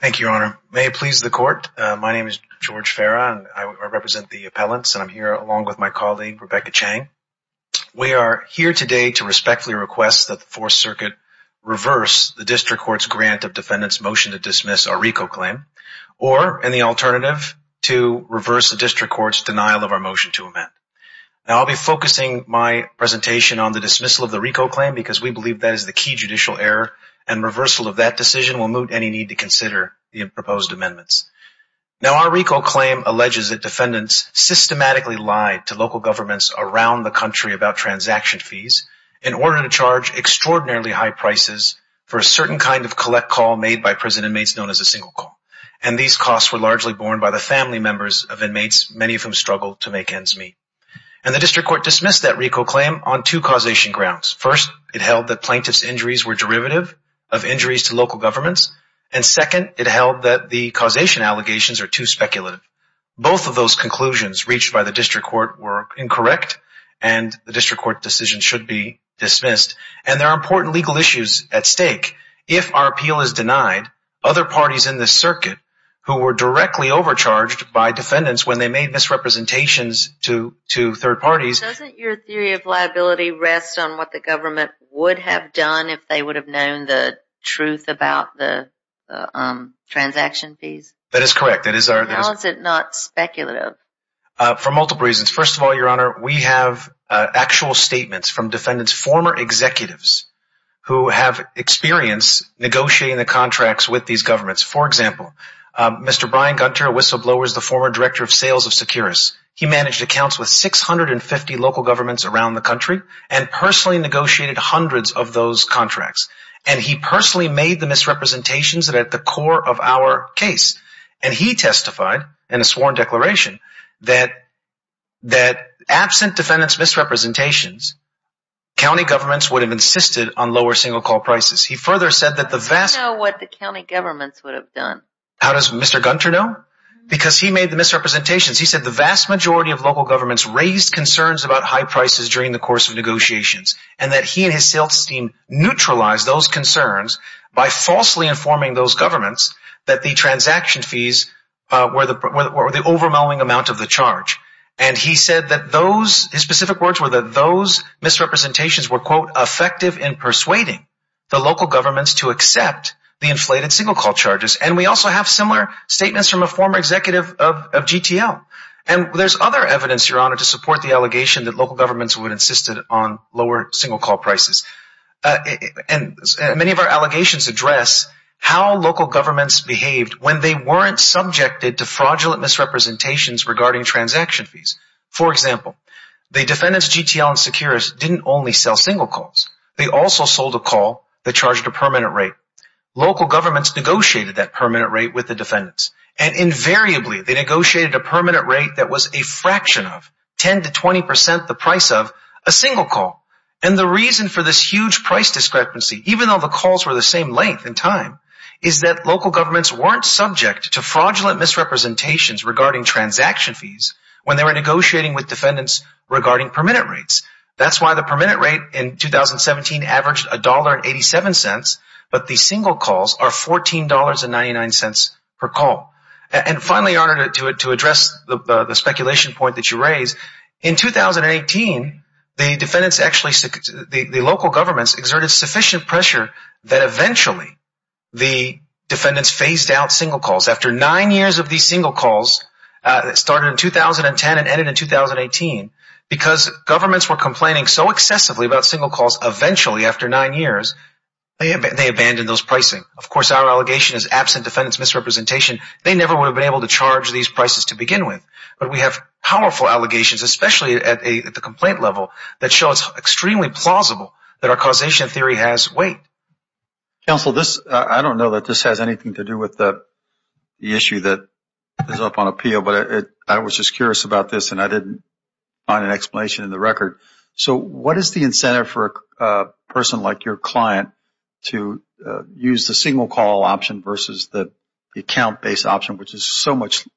Thank you, Your Honor. May it please the Court, my name is George Farah and I represent the appellants and I'm here along with my colleague Rebecca Chang. We are here today to respectfully request that the Fourth Circuit reverse the District Court's grant of defendants' motion to dismiss our RICO claim or, and the alternative, to reverse the District Court's denial of our motion to amend. Now I'll be focusing my presentation on the dismissal of the RICO claim because we believe that is the key judicial error and reversal of that decision will moot any need to consider the proposed amendments. Now our RICO claim alleges that defendants systematically lied to local governments around the country about transaction fees in order to charge extraordinarily high prices for a certain kind of collect call made by prison inmates known as a single call. And these costs were largely borne by the family members of inmates, many of whom struggled to make ends meet. And the District Court dismissed that RICO claim on two causation grounds. First, it held that plaintiff's injuries were to the fault of local governments. And second, it held that the causation allegations are too speculative. Both of those conclusions reached by the District Court were incorrect and the District Court decision should be dismissed. And there are important legal issues at stake. If our appeal is denied, other parties in this circuit who were directly overcharged by defendants when they made misrepresentations to, to third parties... Doesn't your theory of liability rest on what the government would have done if they would have known the truth about the transaction fees? That is correct. How is it not speculative? For multiple reasons. First of all, Your Honor, we have actual statements from defendants, former executives, who have experience negotiating the contracts with these governments. For example, Mr. Brian Gunter, a whistleblower, is the former director of sales of Securus. He managed accounts with 650 local governments around the country and personally negotiated hundreds of those contracts. And he personally made the misrepresentations at the core of our case. And he testified in a sworn declaration that, that absent defendants' misrepresentations, county governments would have insisted on lower single call prices. He further said that the vast... How does he know what the county governments would have done? How does Mr. Gunter know? Because he made the misrepresentations. He said the vast majority he and his sales team neutralized those concerns by falsely informing those governments that the transaction fees were the overwhelming amount of the charge. And he said that those – his specific words were that those misrepresentations were, quote, effective in persuading the local governments to accept the inflated single call charges. And we also have similar statements from a former executive of GTL. And there's other evidence, Your Honor, to support the lower single call prices. And many of our allegations address how local governments behaved when they weren't subjected to fraudulent misrepresentations regarding transaction fees. For example, the defendants' GTL and Securus didn't only sell single calls. They also sold a call that charged a permanent rate. Local governments negotiated that permanent rate with the defendants. And invariably, they negotiated a permanent rate that was a fraction of 10 to 20 percent the price of a single call. And the reason for this huge price discrepancy, even though the calls were the same length and time, is that local governments weren't subject to fraudulent misrepresentations regarding transaction fees when they were negotiating with defendants regarding permanent rates. That's why the permanent rate in 2017 averaged $1.87, but the single calls are $14.99 per call. And finally, Your Honor, to address the speculation point that you raised, in 2018, the defendants actually, the local governments exerted sufficient pressure that eventually the defendants phased out single calls. After nine years of these single calls, started in 2010 and ended in 2018, because governments were complaining so excessively about single calls, eventually after nine years, they abandoned those pricing. Of course, our allegation is absent defendants' misrepresentation. They never would have been able to charge these prices to begin with. But we have powerful allegations, especially at the complaint level, that show it's extremely plausible that our causation theory has weight. Counsel, I don't know that this has anything to do with the issue that is up on appeal, but I was just curious about this and I didn't find an explanation in the record. So what is the incentive for a person like your client to use the single call option versus the account based option, which is so much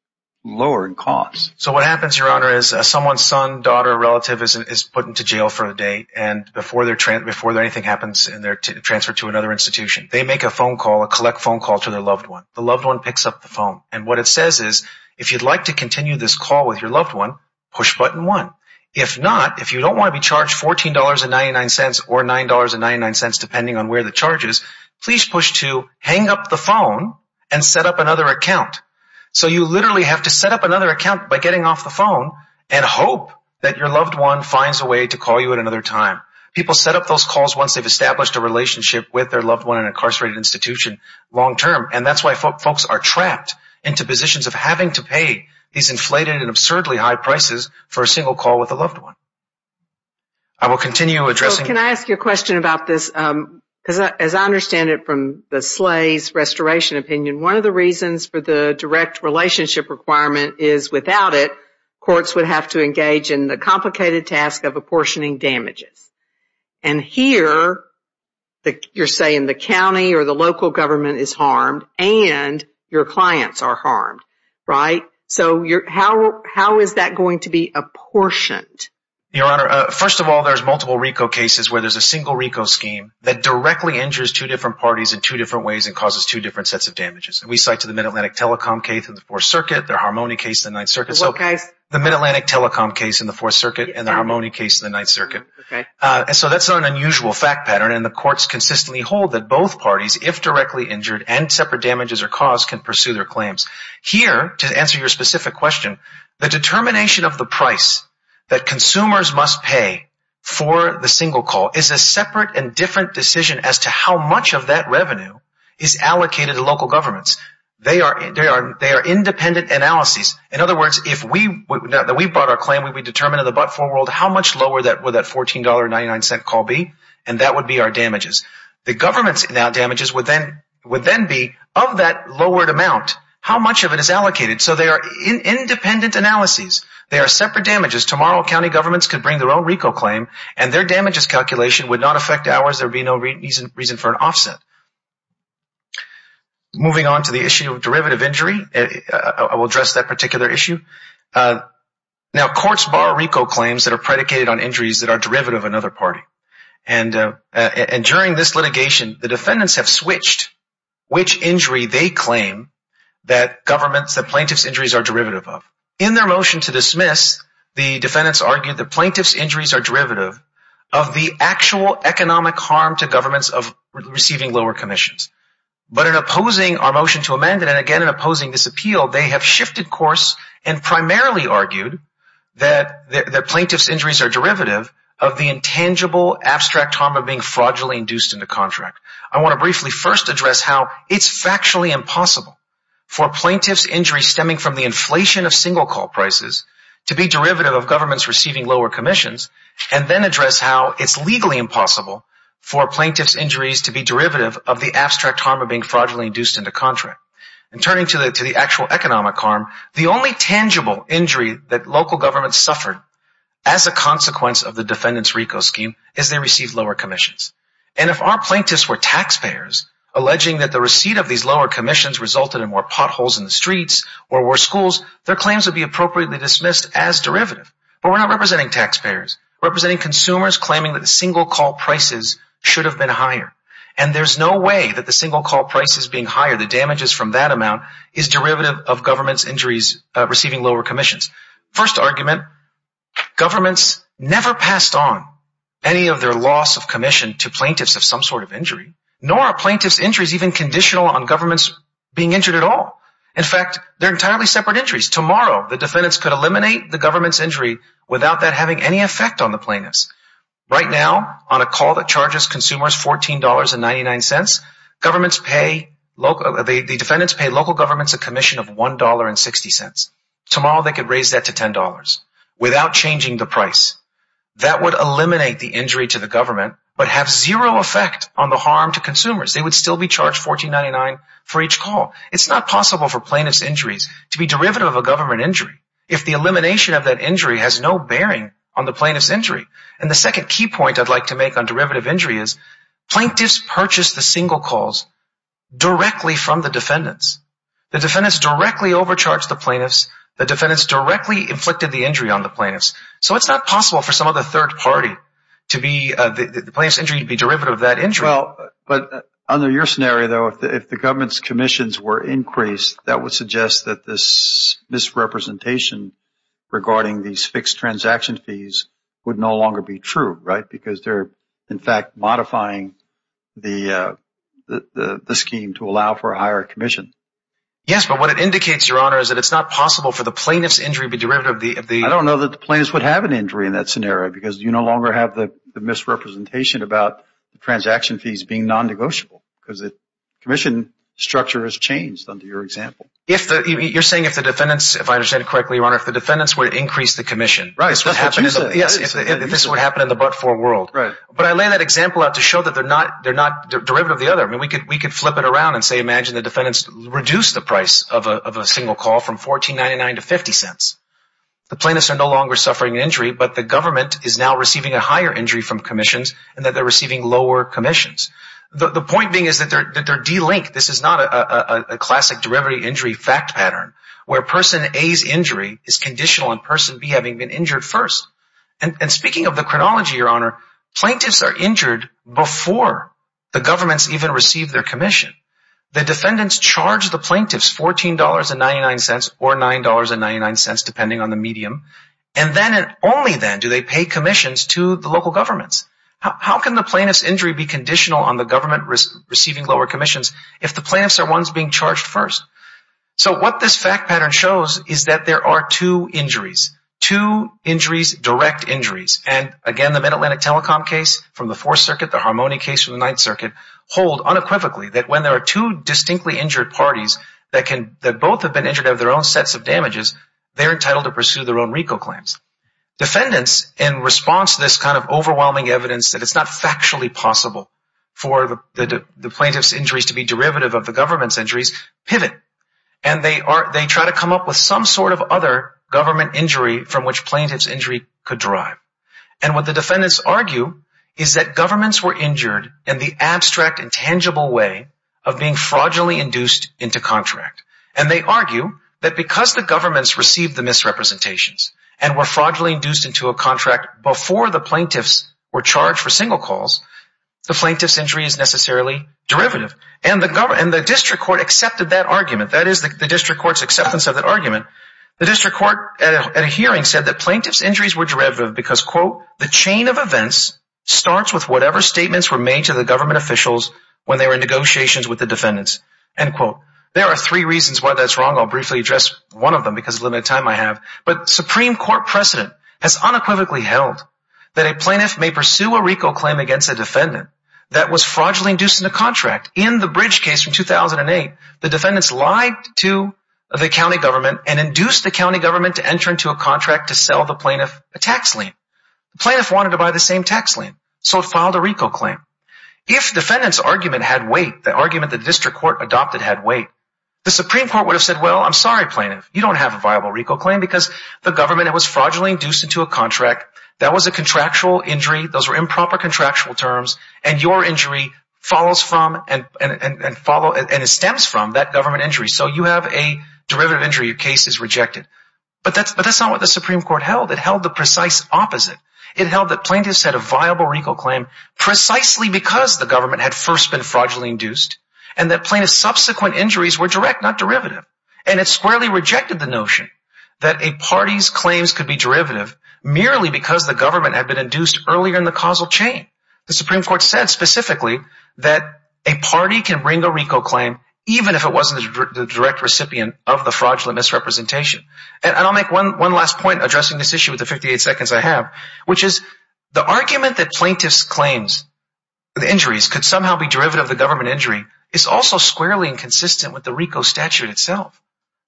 lower in cost? So what happens, Your Honor, is someone's son, daughter, or relative is put into jail for the day and before anything happens, they're transferred to another institution. They make a phone call, a collect phone call to their loved one. The loved one picks up the phone and what it says is, if you'd like to continue this call with your loved one, push button one. If not, if you don't want to be charged $14.99 or $9.99 depending on where the charge is, please push two, hang up the phone, and set up another account. So you literally have to set up another account by getting off the phone and hope that your loved one finds a way to call you at another time. People set up those calls once they've established a relationship with their loved one in an incarcerated institution long term and that's why folks are trapped into positions of having to pay these inflated and absurdly high prices for a single call with a loved one. I will continue addressing... Can I ask you a question about this? As I understand it from the Slay's Restoration opinion, one of the reasons for the direct relationship requirement is without it, courts would have to engage in the complicated task of apportioning damages. And here, you're saying the county or the local government is harmed and your clients are harmed, right? So how is that going to be apportioned? Your Honor, first of all, there's multiple RICO cases where there's a single RICO scheme that directly injures two different parties in two different ways and causes two different sets of damages. We cite to the Mid-Atlantic Telecom case in the Fourth Circuit, the Harmony case in the Ninth Circuit. The what case? The Mid-Atlantic Telecom case in the Fourth Circuit and the Harmony case in the Ninth Circuit. So that's an unusual fact pattern and the courts consistently hold that both parties, if directly injured and separate damages are caused, can pursue their claims. Here, to answer your specific question, the determination of the price that consumers must pay for the single call is a separate and different decision as to how much of that revenue is allocated to local governments. They are independent analyses. In other words, if we brought our claim, we would determine in the but-for world how much lower would that $14.99 call be and that would be our damages. The government's damages would then be, of that lowered amount, how much of it is allocated. So they are independent analyses. They are separate damages. Tomorrow, county governments could bring their own RICO claim and their damages calculation would not affect ours. There would be no reason for an offset. Moving on to the issue of derivative injury, I will address that particular issue. Now, courts borrow RICO claims that are predicated on injuries that are derivative of another party. And during this litigation, the defendants have switched which injury they claim that the plaintiff's injuries are derivative of. In their motion to dismiss, the defendants argued that the plaintiff's injuries are derivative of the actual economic harm to governments of receiving lower commissions. But in opposing our motion to amend it, and again in opposing this appeal, they have shifted course and primarily argued that the plaintiff's injuries are derivative of the intangible abstract harm of being fraudulently induced into contract. I want to briefly first address how it is factually impossible for plaintiff's injuries stemming from the inflation of single call prices to be derivative of governments receiving lower commissions and then address how it is legally impossible for plaintiff's injuries to be derivative of the abstract harm of being fraudulently induced into contract. And turning to the actual economic harm, the only tangible injury that local governments suffered as a consequence of the defendant's RICO scheme is they received lower commissions. And if our plaintiffs were taxpayers, alleging that the receipt of these lower commissions resulted in more potholes in the streets or worse schools, their claims would be appropriately dismissed as derivative. But we're not representing taxpayers. We're representing consumers claiming that the single call prices should have been higher. And there's no way that the single call prices being higher, the damages from that amount, is derivative of governments' injuries receiving lower commissions. First argument, governments never passed on any of their loss of commission to plaintiffs of some sort of injury, nor are plaintiff's injuries even conditional on governments being injured at all. In fact, they're entirely separate injuries. Tomorrow, the defendants could eliminate the government's injury without that having any effect on the plaintiffs. Right now, on a call that charges consumers $14.99, the defendants pay local governments a commission of $1.60. Tomorrow, they could raise that to $10 without changing the price. That would eliminate the injury to the government but have zero effect on the harm to consumers. They would still be charged $14.99 for each call. It's not possible for plaintiff's injuries to be derivative of a government injury if the elimination of that injury has no bearing on the plaintiff's injury. And the second key point I'd like to make on derivative injury is plaintiffs purchased the single calls directly from the defendants. The defendants directly overcharged the plaintiffs. The defendants directly inflicted the injury on the plaintiffs. So it's not possible for some other third party to be the plaintiff's injury to be derivative of that injury. But under your scenario, though, if the government's commissions were increased, that would suggest that this misrepresentation regarding these fixed transaction fees would no longer be true, right? Because they're, in fact, modifying the scheme to allow for a higher commission. Yes, but what it indicates, Your Honor, is that it's not possible for the plaintiff's injury to be derivative of the... I don't know that the plaintiffs would have an injury in that scenario because you no longer have the misrepresentation about the transaction fees being non-negotiable because the commission structure has changed under your example. If the... You're saying if the defendants, if I understand it correctly, Your Honor, if the defendants were to increase the commission, this would happen in the future? Yes, if this were to happen in the but-for world. But I lay that example out to show that they're not derivative of the other. I mean, we could flip it around and say, imagine the defendants reduced the price of a single call from $14.99 to $0.50. The plaintiffs are no longer suffering an injury, but the government is now receiving a higher injury from commissions and that they're receiving lower commissions. The point being is that they're delinked. This is not a classic derivative injury fact pattern where person A's injury is conditional on person B having been injured first. And speaking of the chronology, Your Honor, plaintiffs are injured before the governments even receive their commission. The defendants charge the plaintiffs $14.99 or $9.99 depending on the medium. And then and only then do they pay commissions to the local governments. How can the plaintiff's injury be conditional on the government receiving lower commissions if the plaintiffs are ones being charged first? So what this fact pattern shows is that there are two injuries, two injuries, direct injuries. And again, the Mid-Atlantic Telecom case from the Fourth Circuit, the Harmony case from the Ninth Circuit hold unequivocally that when there are two distinctly injured parties that can that both have been injured of their own sets of damages, they're entitled to pursue their own RICO claims. Defendants, in response to this kind of overwhelming evidence that it's not factually possible for the plaintiff's injuries to be derivative of the government's injury, and they try to come up with some sort of other government injury from which plaintiff's injury could derive. And what the defendants argue is that governments were injured in the abstract and tangible way of being fraudulently induced into contract. And they argue that because the governments received the misrepresentations and were fraudulently induced into a contract before the plaintiffs were charged for single calls, the plaintiff's injuries were not necessarily derivative. And the district court accepted that argument. That is the district court's acceptance of that argument. The district court at a hearing said that plaintiff's injuries were derivative because, quote, the chain of events starts with whatever statements were made to the government officials when they were in negotiations with the defendants, end quote. There are three reasons why that's wrong. I'll briefly address one of them because of the limited time I have. But Supreme Court precedent has unequivocally held that a plaintiff may pursue a RICO claim against a defendant that was fraudulently induced into a contract. In the Bridge case from 2008, the defendants lied to the county government and induced the county government to enter into a contract to sell the plaintiff a tax lien. The plaintiff wanted to buy the same tax lien, so it filed a RICO claim. If defendant's argument had weight, the argument the district court adopted had weight, the Supreme Court would have said, well, I'm sorry, plaintiff. You don't have a viable RICO claim because the government was fraudulently induced into a contract. That was a contractual injury. Those were improper contractual terms. And your injury follows from and stems from that government injury. So you have a derivative injury. Your case is rejected. But that's not what the Supreme Court held. It held the precise opposite. It held that plaintiffs had a viable RICO claim precisely because the government had first been fraudulently induced and that plaintiff's subsequent injuries were direct, not derivative. And it squarely rejected the notion that a party's claims could be derivative merely because the government had been induced earlier in the causal chain. The Supreme Court said specifically that a party can bring a RICO claim even if it wasn't the direct recipient of the fraudulent misrepresentation. And I'll make one last point addressing this issue with the 58 seconds I have, which is the argument that plaintiff's claims, the injuries, could somehow be derivative of the government injury is also squarely inconsistent with the RICO statute itself.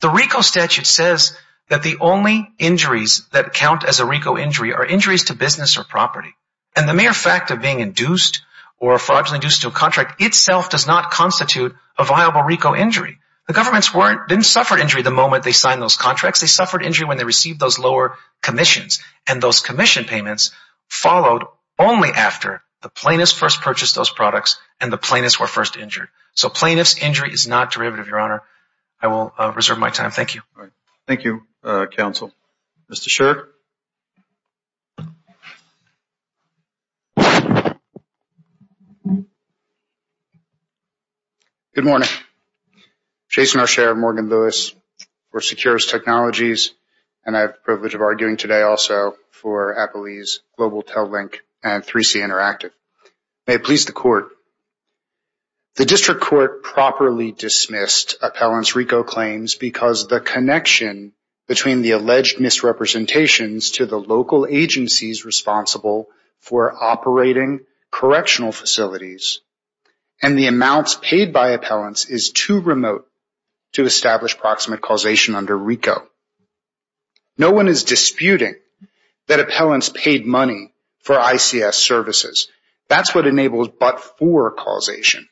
The RICO statute says that the only injuries that count as a RICO injury are injuries to business or property. And the mere fact of being induced or fraudulently induced to a contract itself does not constitute a viable RICO injury. The governments didn't suffer injury the moment they signed those contracts. They suffered injury when they received those lower commissions. And those commission payments followed only after the plaintiffs first purchased those products and the plaintiffs were first injured. So I will reserve my time. Thank you. All right. Thank you, counsel. Mr. Sherr. Good morning. Jason Arsher, Morgan Lewis. We're Secures Technologies, and I have the privilege of arguing today also for Applebee's, Global Tellink, and 3C Interactive. May it be a pleasure, Mr. Sherr. Your court properly dismissed appellants' RICO claims because the connection between the alleged misrepresentations to the local agencies responsible for operating correctional facilities and the amounts paid by appellants is too remote to establish proximate causation under RICO. No one is disputing that appellants paid money for ICS services. That's what enables but-for causation.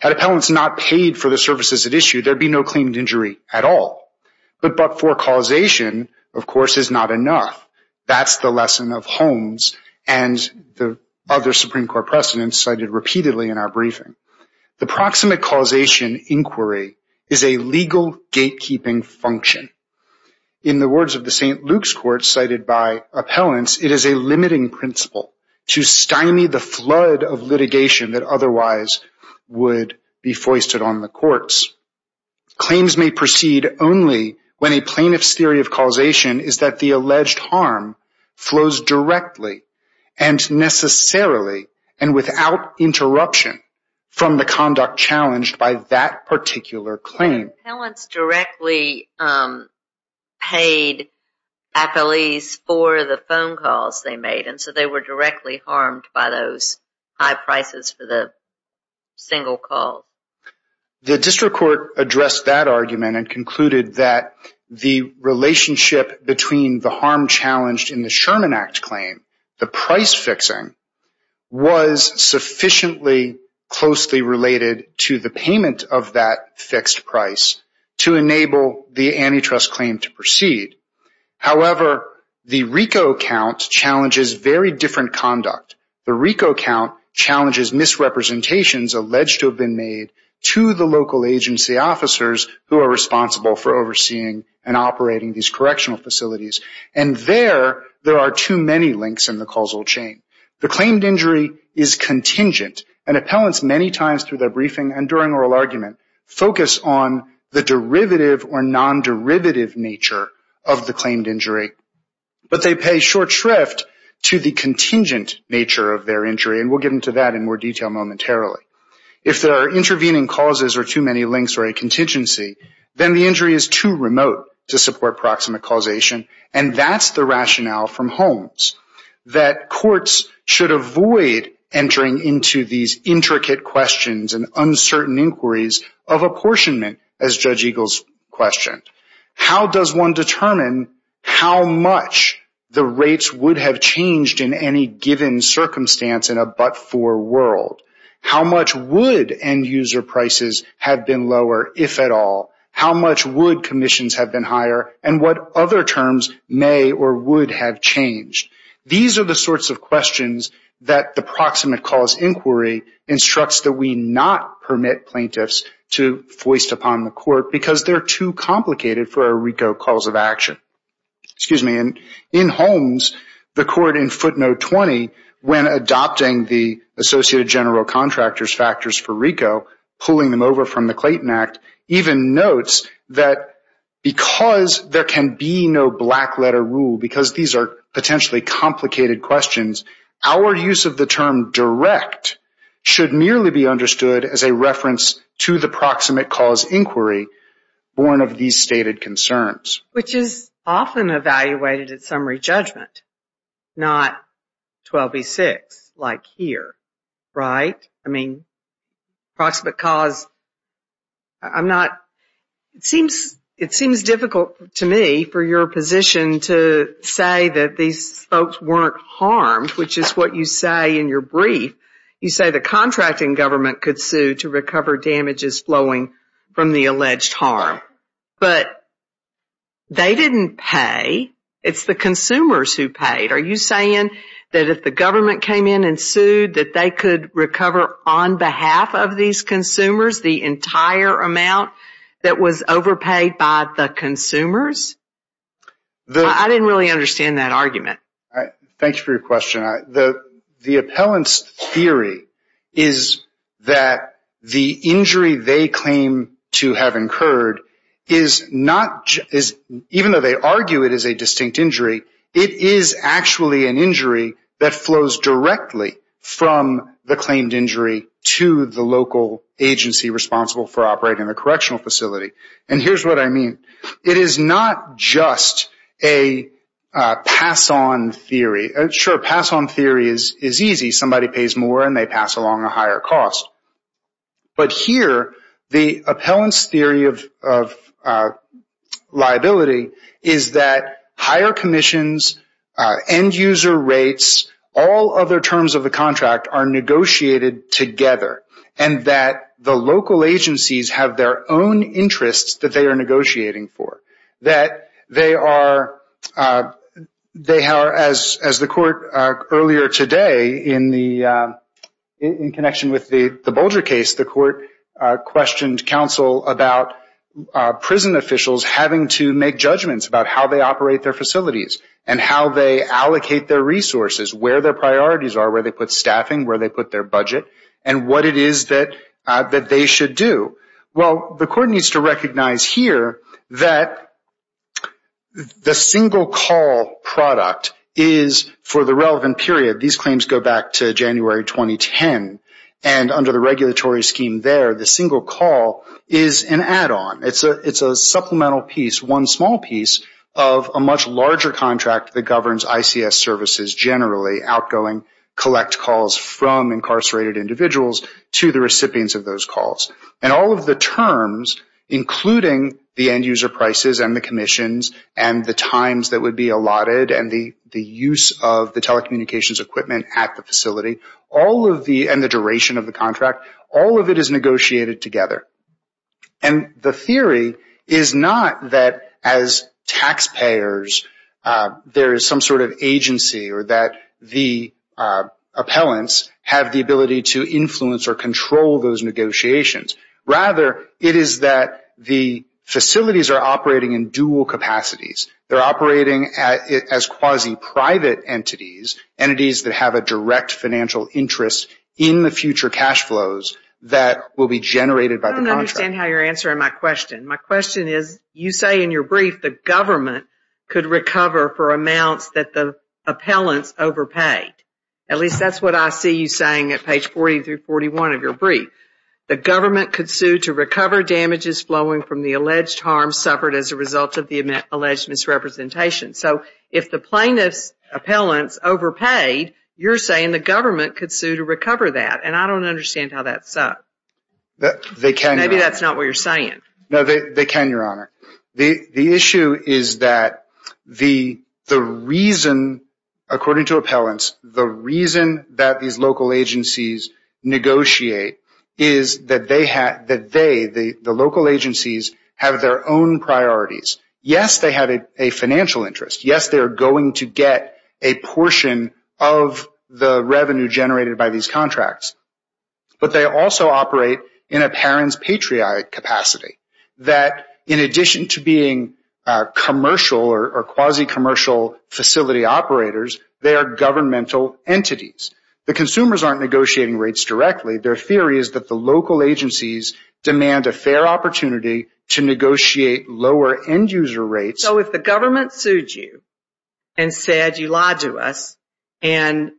Had appellants not paid for the services at issue, there'd be no claimed injury at all. But but-for causation, of course, is not enough. That's the lesson of Holmes and the other Supreme Court precedents cited repeatedly in our briefing. The proximate causation inquiry is a legal gatekeeping function. In the words of the litigation that otherwise would be foisted on the courts, claims may proceed only when a plaintiff's theory of causation is that the alleged harm flows directly and necessarily and without interruption from the conduct challenged by that particular claim. Appellants directly paid appellees for the phone calls they made and so they were directly harmed by those high prices for the single call. The district court addressed that argument and concluded that the relationship between the harm challenged in the Sherman Act claim, the price fixing, was sufficiently closely related to the payment of that fixed price to enable the antitrust claim to proceed. However, the RICO count challenges very different conduct. The RICO count challenges misrepresentations alleged to have been made to the local agency officers who are responsible for overseeing and operating these correctional facilities. And there, there are too many links in the causal chain. The claimed claimants many times through their briefing and during oral argument focus on the derivative or non-derivative nature of the claimed injury, but they pay short shrift to the contingent nature of their injury, and we'll get into that in more detail momentarily. If there are intervening causes or too many links or a contingency, then the injury is too remote to support proximate causation, and that's the sort of questions and uncertain inquiries of apportionment, as Judge Eagles questioned. How does one determine how much the rates would have changed in any given circumstance in a but-for world? How much would end-user prices have been lower, if at all? How much would commissions have been higher, and what other terms may or would have changed? These are the sorts of questions that the court requests that we not permit plaintiffs to foist upon the court because they're too complicated for our RICO calls of action. In Holmes, the court in footnote 20, when adopting the associated general contractors factors for RICO, pulling them over from the Clayton Act, even notes that because there can be no black-letter rule, because these are potentially complicated questions, our use of the term direct should merely be understood as a reference to the proximate cause inquiry born of these stated concerns. Which is often evaluated at summary judgment, not 12B6, like here, right? I mean, proximate cause, I'm not, it seems difficult to me for your position to say that these folks weren't harmed, which is what you say in your brief. You say the contracting government could sue to recover damages flowing from the alleged harm, but they didn't pay. It's the consumers who paid. Are you saying that if the government came in and sued, that they could recover on behalf of these consumers the entire amount that was overpaid by the consumers? I didn't really understand that argument. Thank you for your question. The appellant's theory is that the injury they claim to have incurred is not, even though they argue it is a distinct injury, it is actually an injury that flows directly from the claimed injury to the local agency responsible for operating the correctional facility. And here's what I mean. It is not just a pass-on theory. Sure, pass-on theory is easy. Somebody pays more and they pass along a higher cost. But here, the appellant's theory of liability is that higher commissions, end-user rates, all other terms of the contract are negotiated together. And that the local agencies have their own interests that they are negotiating for. That they are, as the court earlier today, in connection with the Bolger case, the court questioned counsel about prison officials having to make judgments about how they operate their facilities, and how they allocate their resources, where their priorities are, where they put staffing, where they put their budget, and what it is that they should do. Well, the court needs to recognize here that the single call product is for the relevant period. These claims go back to January 2010. And under the regulatory scheme there, the single call is an add-on. It is a supplemental piece, one small piece, of a much larger contract that governs ICS services generally, outgoing collect calls from incarcerated individuals to the recipients of those calls. And all of the terms, including the end-user prices and the commissions, and the times that would be allotted, and the use of the telecommunications equipment at the facility, all of the, and the duration of the contract, all of it is negotiated together. And the theory is not that as taxpayers there is some sort of mechanism to influence or control those negotiations. Rather, it is that the facilities are operating in dual capacities. They are operating as quasi-private entities, entities that have a direct financial interest in the future cash flows that will be generated by the contract. I don't understand how you are answering my question. My question is, you say in your brief the government could recover for amounts that the appellants overpaid. At least that is what I see you saying at page 40 through 41 of your brief. The government could sue to recover damages flowing from the alleged harm suffered as a result of the alleged misrepresentation. So, if the plaintiff's appellants overpaid, you are saying the government could sue to recover that. And I don't understand how that sucks. They can, Your Honor. The issue is that the reason, according to appellants, the reason that these local agencies negotiate is that they, the local agencies, have their own priorities. Yes, they have a financial interest. Yes, they are going to get a portion of the revenue generated by these contracts. But they also operate in a parent's patriotic capacity. That in addition to the fact that the appellants overpaid, in addition to being commercial or quasi-commercial facility operators, they are governmental entities. The consumers aren't negotiating rates directly. Their theory is that the local agencies demand a fair opportunity to negotiate lower end user rates. So, if the government sued you and said you lied to us and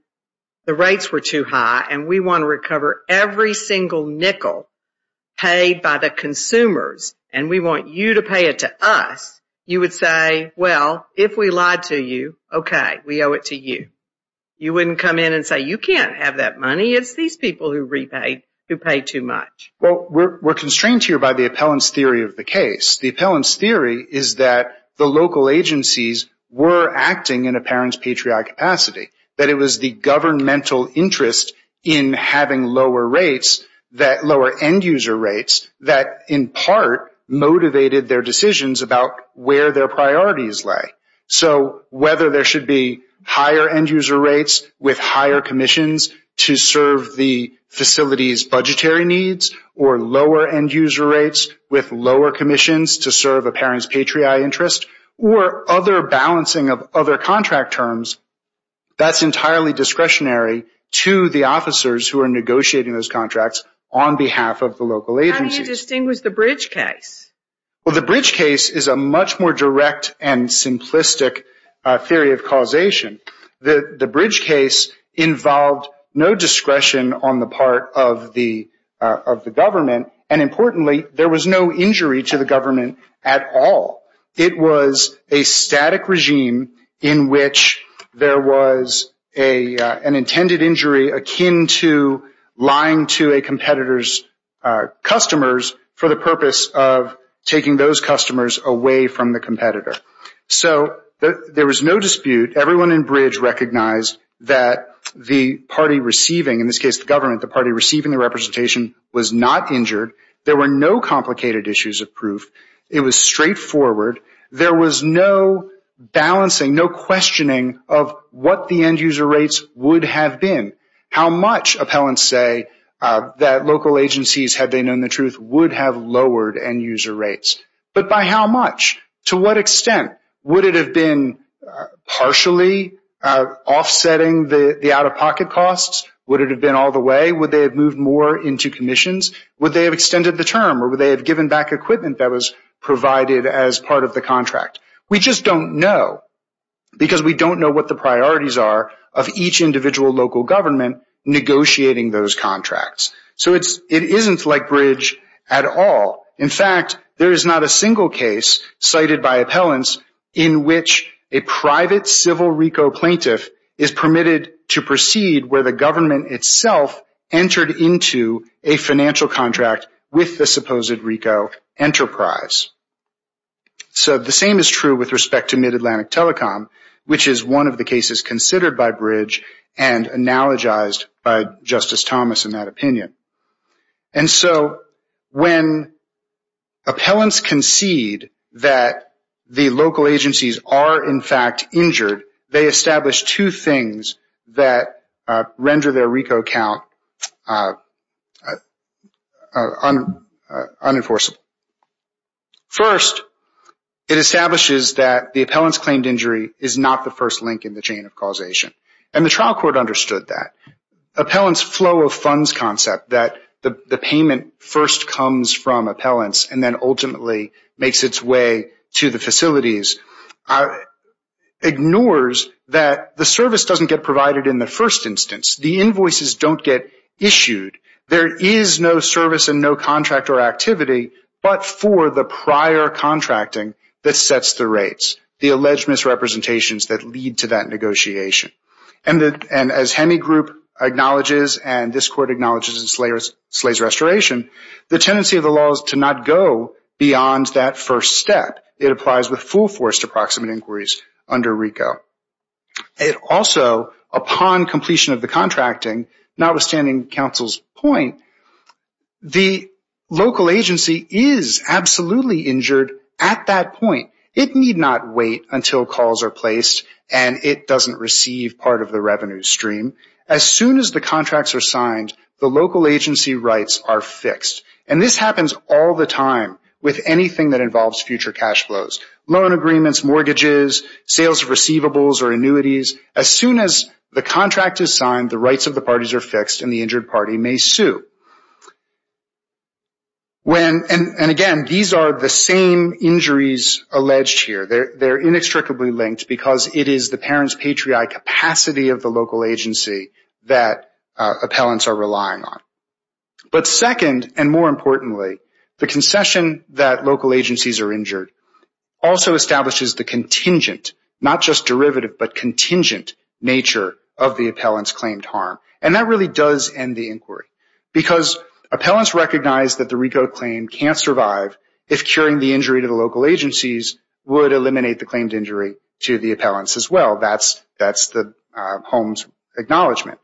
the rates were too high and we want to recover every single nickel paid by the consumers and we want you to pay it to us, you would say, well, if we lied to you, okay, we owe it to you. You wouldn't come in and say, you can't have that money. It's these people who repaid, who paid too much. Well, we're constrained here by the appellant's theory of the case. The appellant's theory is that the local agencies were acting in a parent's patriotic capacity. That it was the governmental interest in having lower rates that lower end user rates were in part motivated their decisions about where their priorities lay. So, whether there should be higher end user rates with higher commissions to serve the facility's budgetary needs or lower end user rates with lower commissions to serve a parent's patriotic interest or other balancing of other contract terms, that's entirely discretionary to the officers who are negotiating those contracts with the local agencies. How do you distinguish the bridge case? Well, the bridge case is a much more direct and simplistic theory of causation. The bridge case involved no discretion on the part of the government and importantly, there was no injury to the government at all. It was a static regime in which there was an intended purpose of taking those customers away from the competitor. So, there was no dispute. Everyone in bridge recognized that the party receiving, in this case the government, the party receiving the representation was not injured. There were no complicated issues of proof. It was straightforward. There was no balancing, no questioning of what the end user rates would have been. How much would it have been? A lot of appellants say that local agencies, had they known the truth, would have lowered end user rates. But by how much? To what extent? Would it have been partially offsetting the out-of-pocket costs? Would it have been all the way? Would they have moved more into commissions? Would they have extended the term or would they have given back equipment that was provided as part of the commission? So, it is not like bridge at all. In fact, there is not a single case cited by appellants in which a private civil RICO plaintiff is permitted to proceed where the government itself entered into a financial contract with the supposed RICO enterprise. So, the same is true with respect to Mid-Atlantic Telecom, which is one of the cases considered by bridge and analogized by Justice Thomas in that opinion. And so, when appellants concede that the local agencies are in fact injured, they establish two things that render their RICO count unenforceable. First, it establishes that the appellant's claimed injury is not the we all understood that. Appellant's flow of funds concept, that the payment first comes from appellants and then ultimately makes its way to the facilities, ignores that the service does not get provided in the first instance. The invoices do not get issued. There is no service and no contract or activity, but for the prior contracting that sets the rates, the alleged misrepresentations that lead to that negotiation. And as HEMI group acknowledges and this court acknowledges in Slay's Restoration, the tendency of the law is to not go beyond that first step. It applies with full force to proximate inquiries under RICO. It also, upon completion of the contracting, not only does the appellant's claim not get issued, but the local agency is absolutely injured at that point. It need not wait until calls are placed and it doesn't receive part of the revenue stream. As soon as the contracts are signed, the local agency rights are fixed. And this happens all the time with anything that involves future cash flows. Loan agreements, mortgages, sales of receivables or annuities, as soon as the contract is signed, the rights of the parties are fixed and the injured party may sue. And again, these are the same injuries alleged here. They are inextricably linked because it is the parent's patriarchal capacity of the local agency that appellants are relying on. But second and more importantly, the concession that local agencies are injured also establishes the contingent, not just derivative, but contingent nature of the appellant's claimed harm. And that really does end the argument that the RICO claim can't survive if curing the injury to the local agencies would eliminate the claimed injury to the appellants as well. That's the Holmes acknowledgment.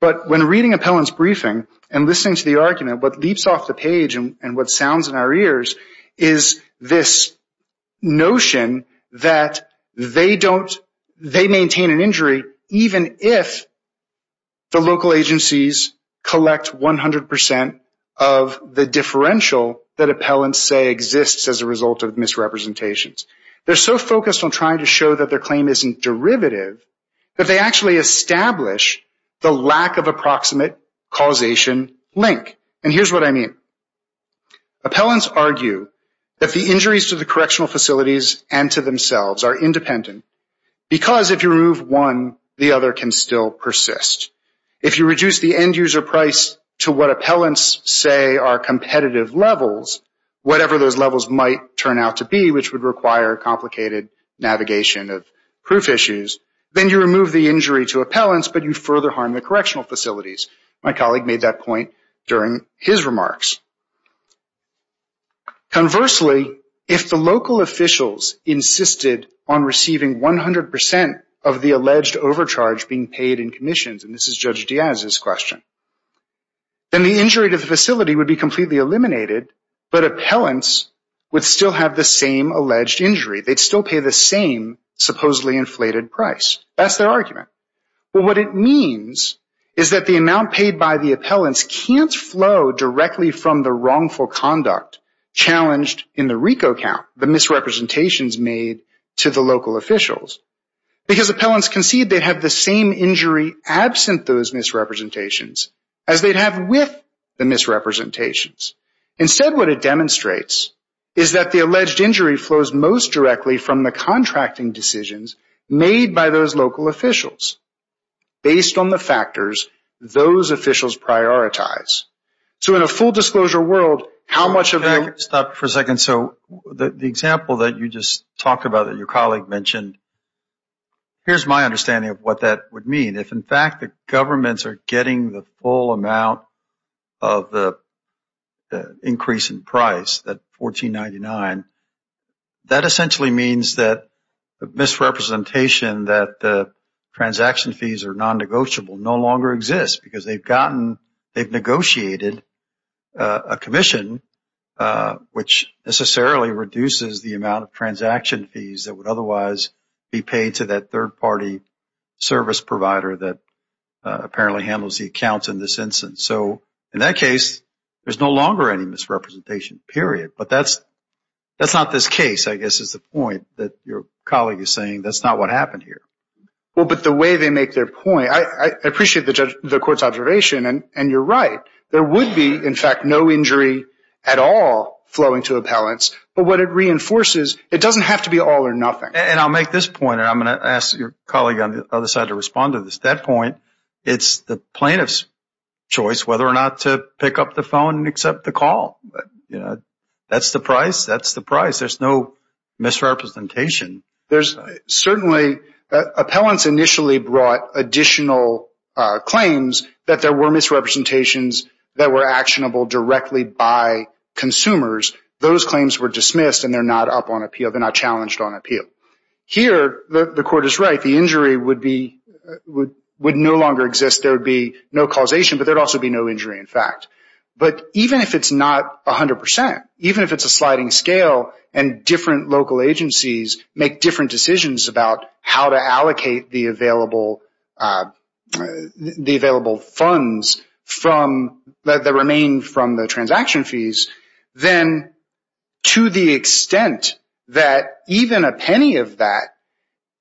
But when reading appellants' briefing and listening to the argument, what leaps off the page and what sounds in our ears is this notion that they maintain an injury even if the local agencies collect 100% of the claims. And this is the differential that appellants say exists as a result of misrepresentations. They're so focused on trying to show that their claim isn't derivative that they actually establish the lack of approximate causation link. And here's what I mean. Appellants argue that the injuries to the correctional facilities and to themselves are independent because if you remove one, the other can still persist. If you reduce the end user price to what appellants say are competitive levels, whatever those levels might turn out to be, which would require a complicated navigation of proof issues, then you remove the injury to appellants, but you further harm the correctional facilities. My colleague made that point during his remarks. Conversely, if the local officials insisted on receiving 100% of the alleged overcharge being paid in commissions, and this is Judge Diaz's question, then the injury to the facility would be completely eliminated, but appellants would still have the same alleged injury. They'd still pay the same supposedly inflated price. That's their argument. But what it means is that the amount paid by the appellants can't flow directly from the wrongful conduct challenged in the RICO count, the misrepresentations. They'd have the same injury absent those misrepresentations as they'd have with the misrepresentations. Instead, what it demonstrates is that the alleged injury flows most directly from the contracting decisions made by those local officials based on the factors those officials prioritize. So in a full disclosure world, how much of the... I don't have an understanding of what that would mean. If in fact the governments are getting the full amount of the increase in price, that $14.99, that essentially means that the misrepresentation that the transaction fees are non-negotiable no longer exists because they've negotiated a commission, which necessarily reduces the amount of transaction fees that would otherwise be paid to that third-party service provider that apparently handles the accounts in this instance. So in that case, there's no longer any misrepresentation, period. But that's not this case, I guess, is the point that your colleague is saying. That's not what happened here. Well, but the way they make their point, I appreciate the court's observation, and you're right. There would be, in fact, no injury at all flowing to appellants. But what it reinforces, it doesn't have to be all or nothing. And I'll make this point, and I'm going to ask your colleague on the other side to respond to this. At that point, it's the plaintiff's choice whether or not to pick up the phone and accept the call. That's the price. That's the price. There's no misrepresentation. Certainly, appellants initially brought additional claims that there were misrepresentations that were actionable directly by consumers. Those claims were dismissed, and they're not up on appeal. They're not challenged on appeal. Here, the court is right. The injury would no longer exist. There would be no causation, but there would also be no injury, in fact. But even if it's not 100 percent, even if it's a sliding scale and different local agencies make different decisions about how to allocate the available funds that remain from the transaction fees, then to the extent that even a penny of that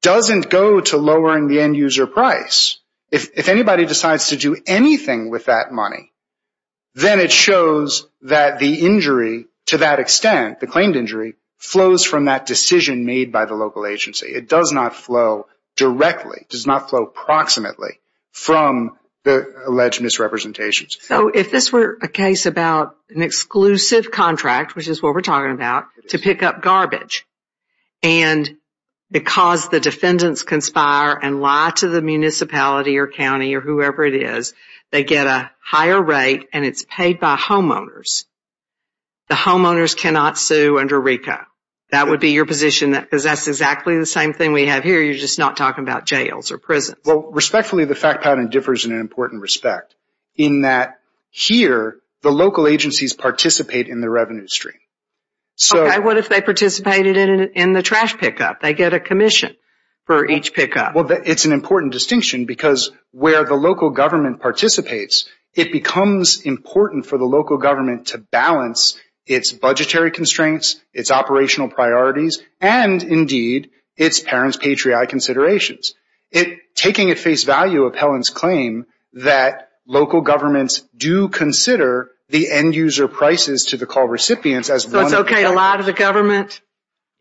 doesn't go to lowering the end-user price, if anybody decides to do anything with that money, then it shows that the injury, to that extent, the claimed injury, flows from that decision made by the local agency. It does not flow directly. It does not flow proximately from the alleged misrepresentations. So if this were a case about an exclusive contract, which is what we're talking about, to pick up garbage, and because the defendants conspire and lie to the municipality or county or whoever it is, they get a higher rate, and it's paid by homeowners. The homeowners cannot sit back and watch the judge sue under RICO. That would be your position, because that's exactly the same thing we have here. You're just not talking about jails or prisons. Well, respectfully, the fact pattern differs in an important respect, in that here, the local agencies participate in the revenue stream. Okay. What if they participated in the trash pickup? They get a commission for each pickup. Well, it's an important distinction, because where the local government participates, it becomes important for the local government to balance its budgetary constraints, its operational priorities, and, indeed, its parents' patriotic considerations. Taking at face value of Helen's claim that local governments do consider the end-user prices to the call recipients as one of the... So it's okay to lie to the government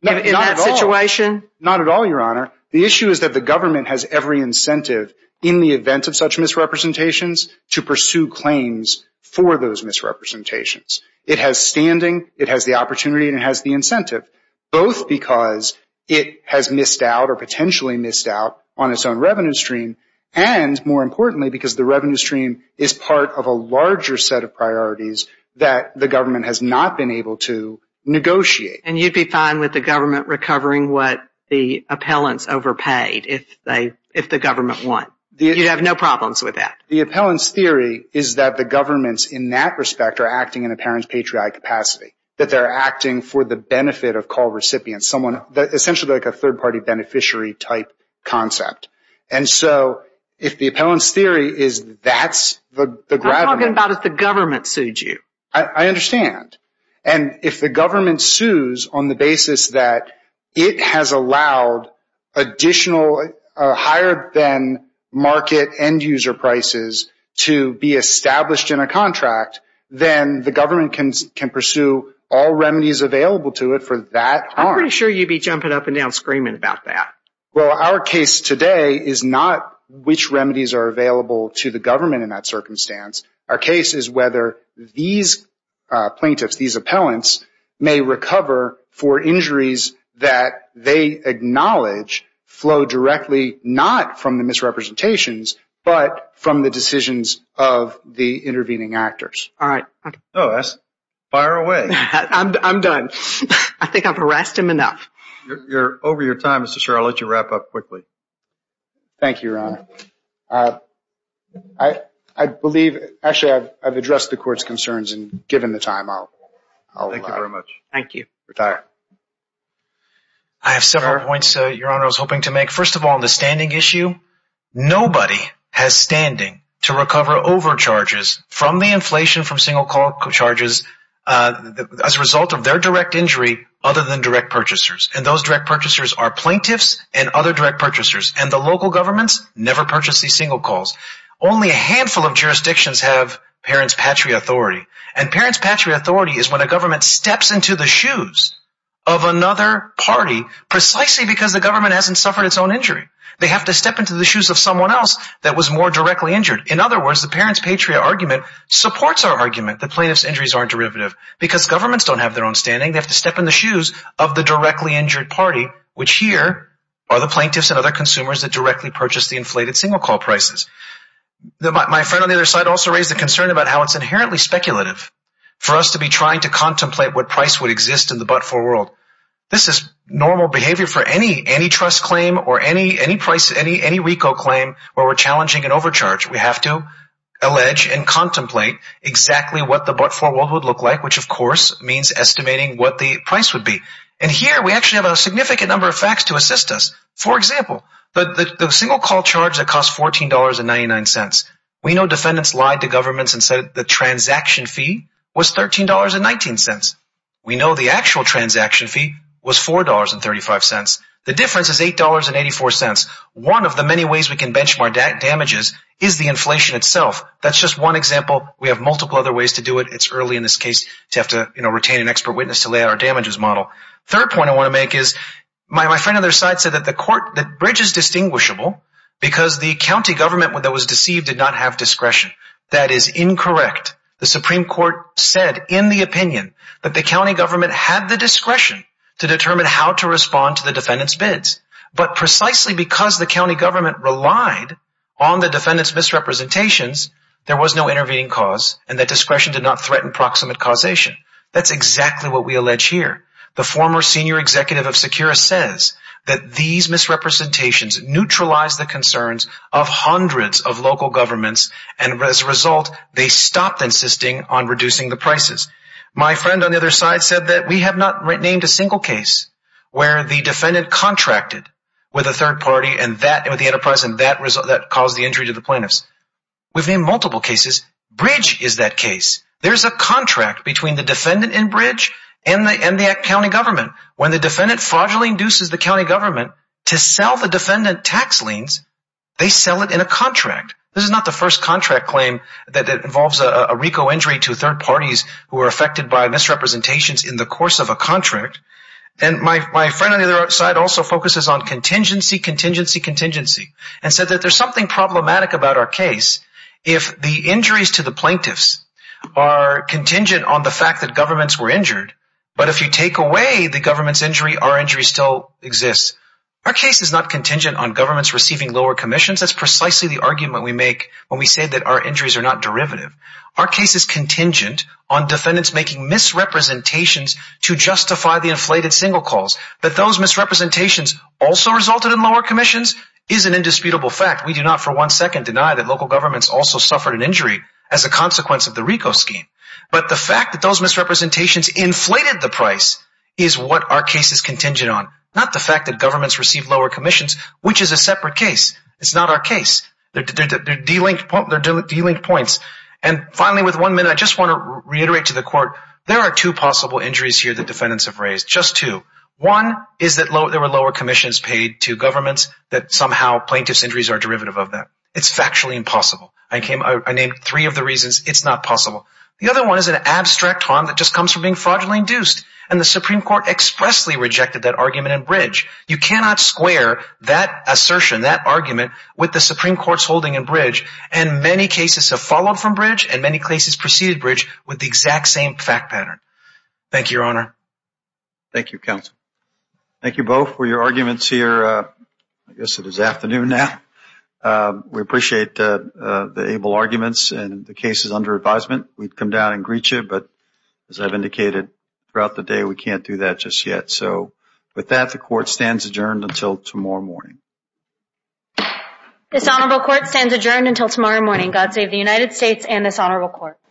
in that situation? Not at all, Your Honor. The issue is that the government has every incentive in the event of such misrepresentations to pursue claims for those misrepresentations. It has standing, it has the opportunity, and it has the incentive, both because it has missed out or potentially missed out on its own revenue stream, and, more importantly, because the revenue stream is part of a larger set of priorities that the government has not been able to negotiate. And you'd be fine with the government recovering what the appellants overpaid if the government won? You'd have no problems with that? The appellant's theory is that the governments, in that respect, are acting in a parent's patriotic capacity, that they're acting for the benefit of call recipients, essentially like a third-party beneficiary-type concept. And so if the appellant's theory is that's the... I'm talking about if the government sued you. I understand. And if the government sues on the basis that it has allowed additional higher-than-market end-user prices to be established in a contract, then the government can pursue all remedies available to it for that harm. I'm pretty sure you'd be jumping up and down screaming about that. Well, our case today is not which remedies are available to the government in that circumstance. Our case is whether these plaintiffs, these appellants, may recover for injuries that they acknowledge flow directly not from the misrepresentations, but from the decisions of the intervening actors. All right. Fire away. I'm done. I think I've harassed him enough. Over your time, Mr. Shurer, I'll let you wrap up quickly. Thank you, Your Honor. Actually, I've addressed the court's concerns, and given the time, I'll allow it. Thank you very much. Thank you, Your Honor. Thank you, Your Honor. Thank you, Your Honor. Thank you, Your Honor. Thank you, Your Honor. Thank you, Your Honor. Thank you, Your Honor. Thank you, Your Honor. Thank you, Your Honor. Thank you, Your Honor.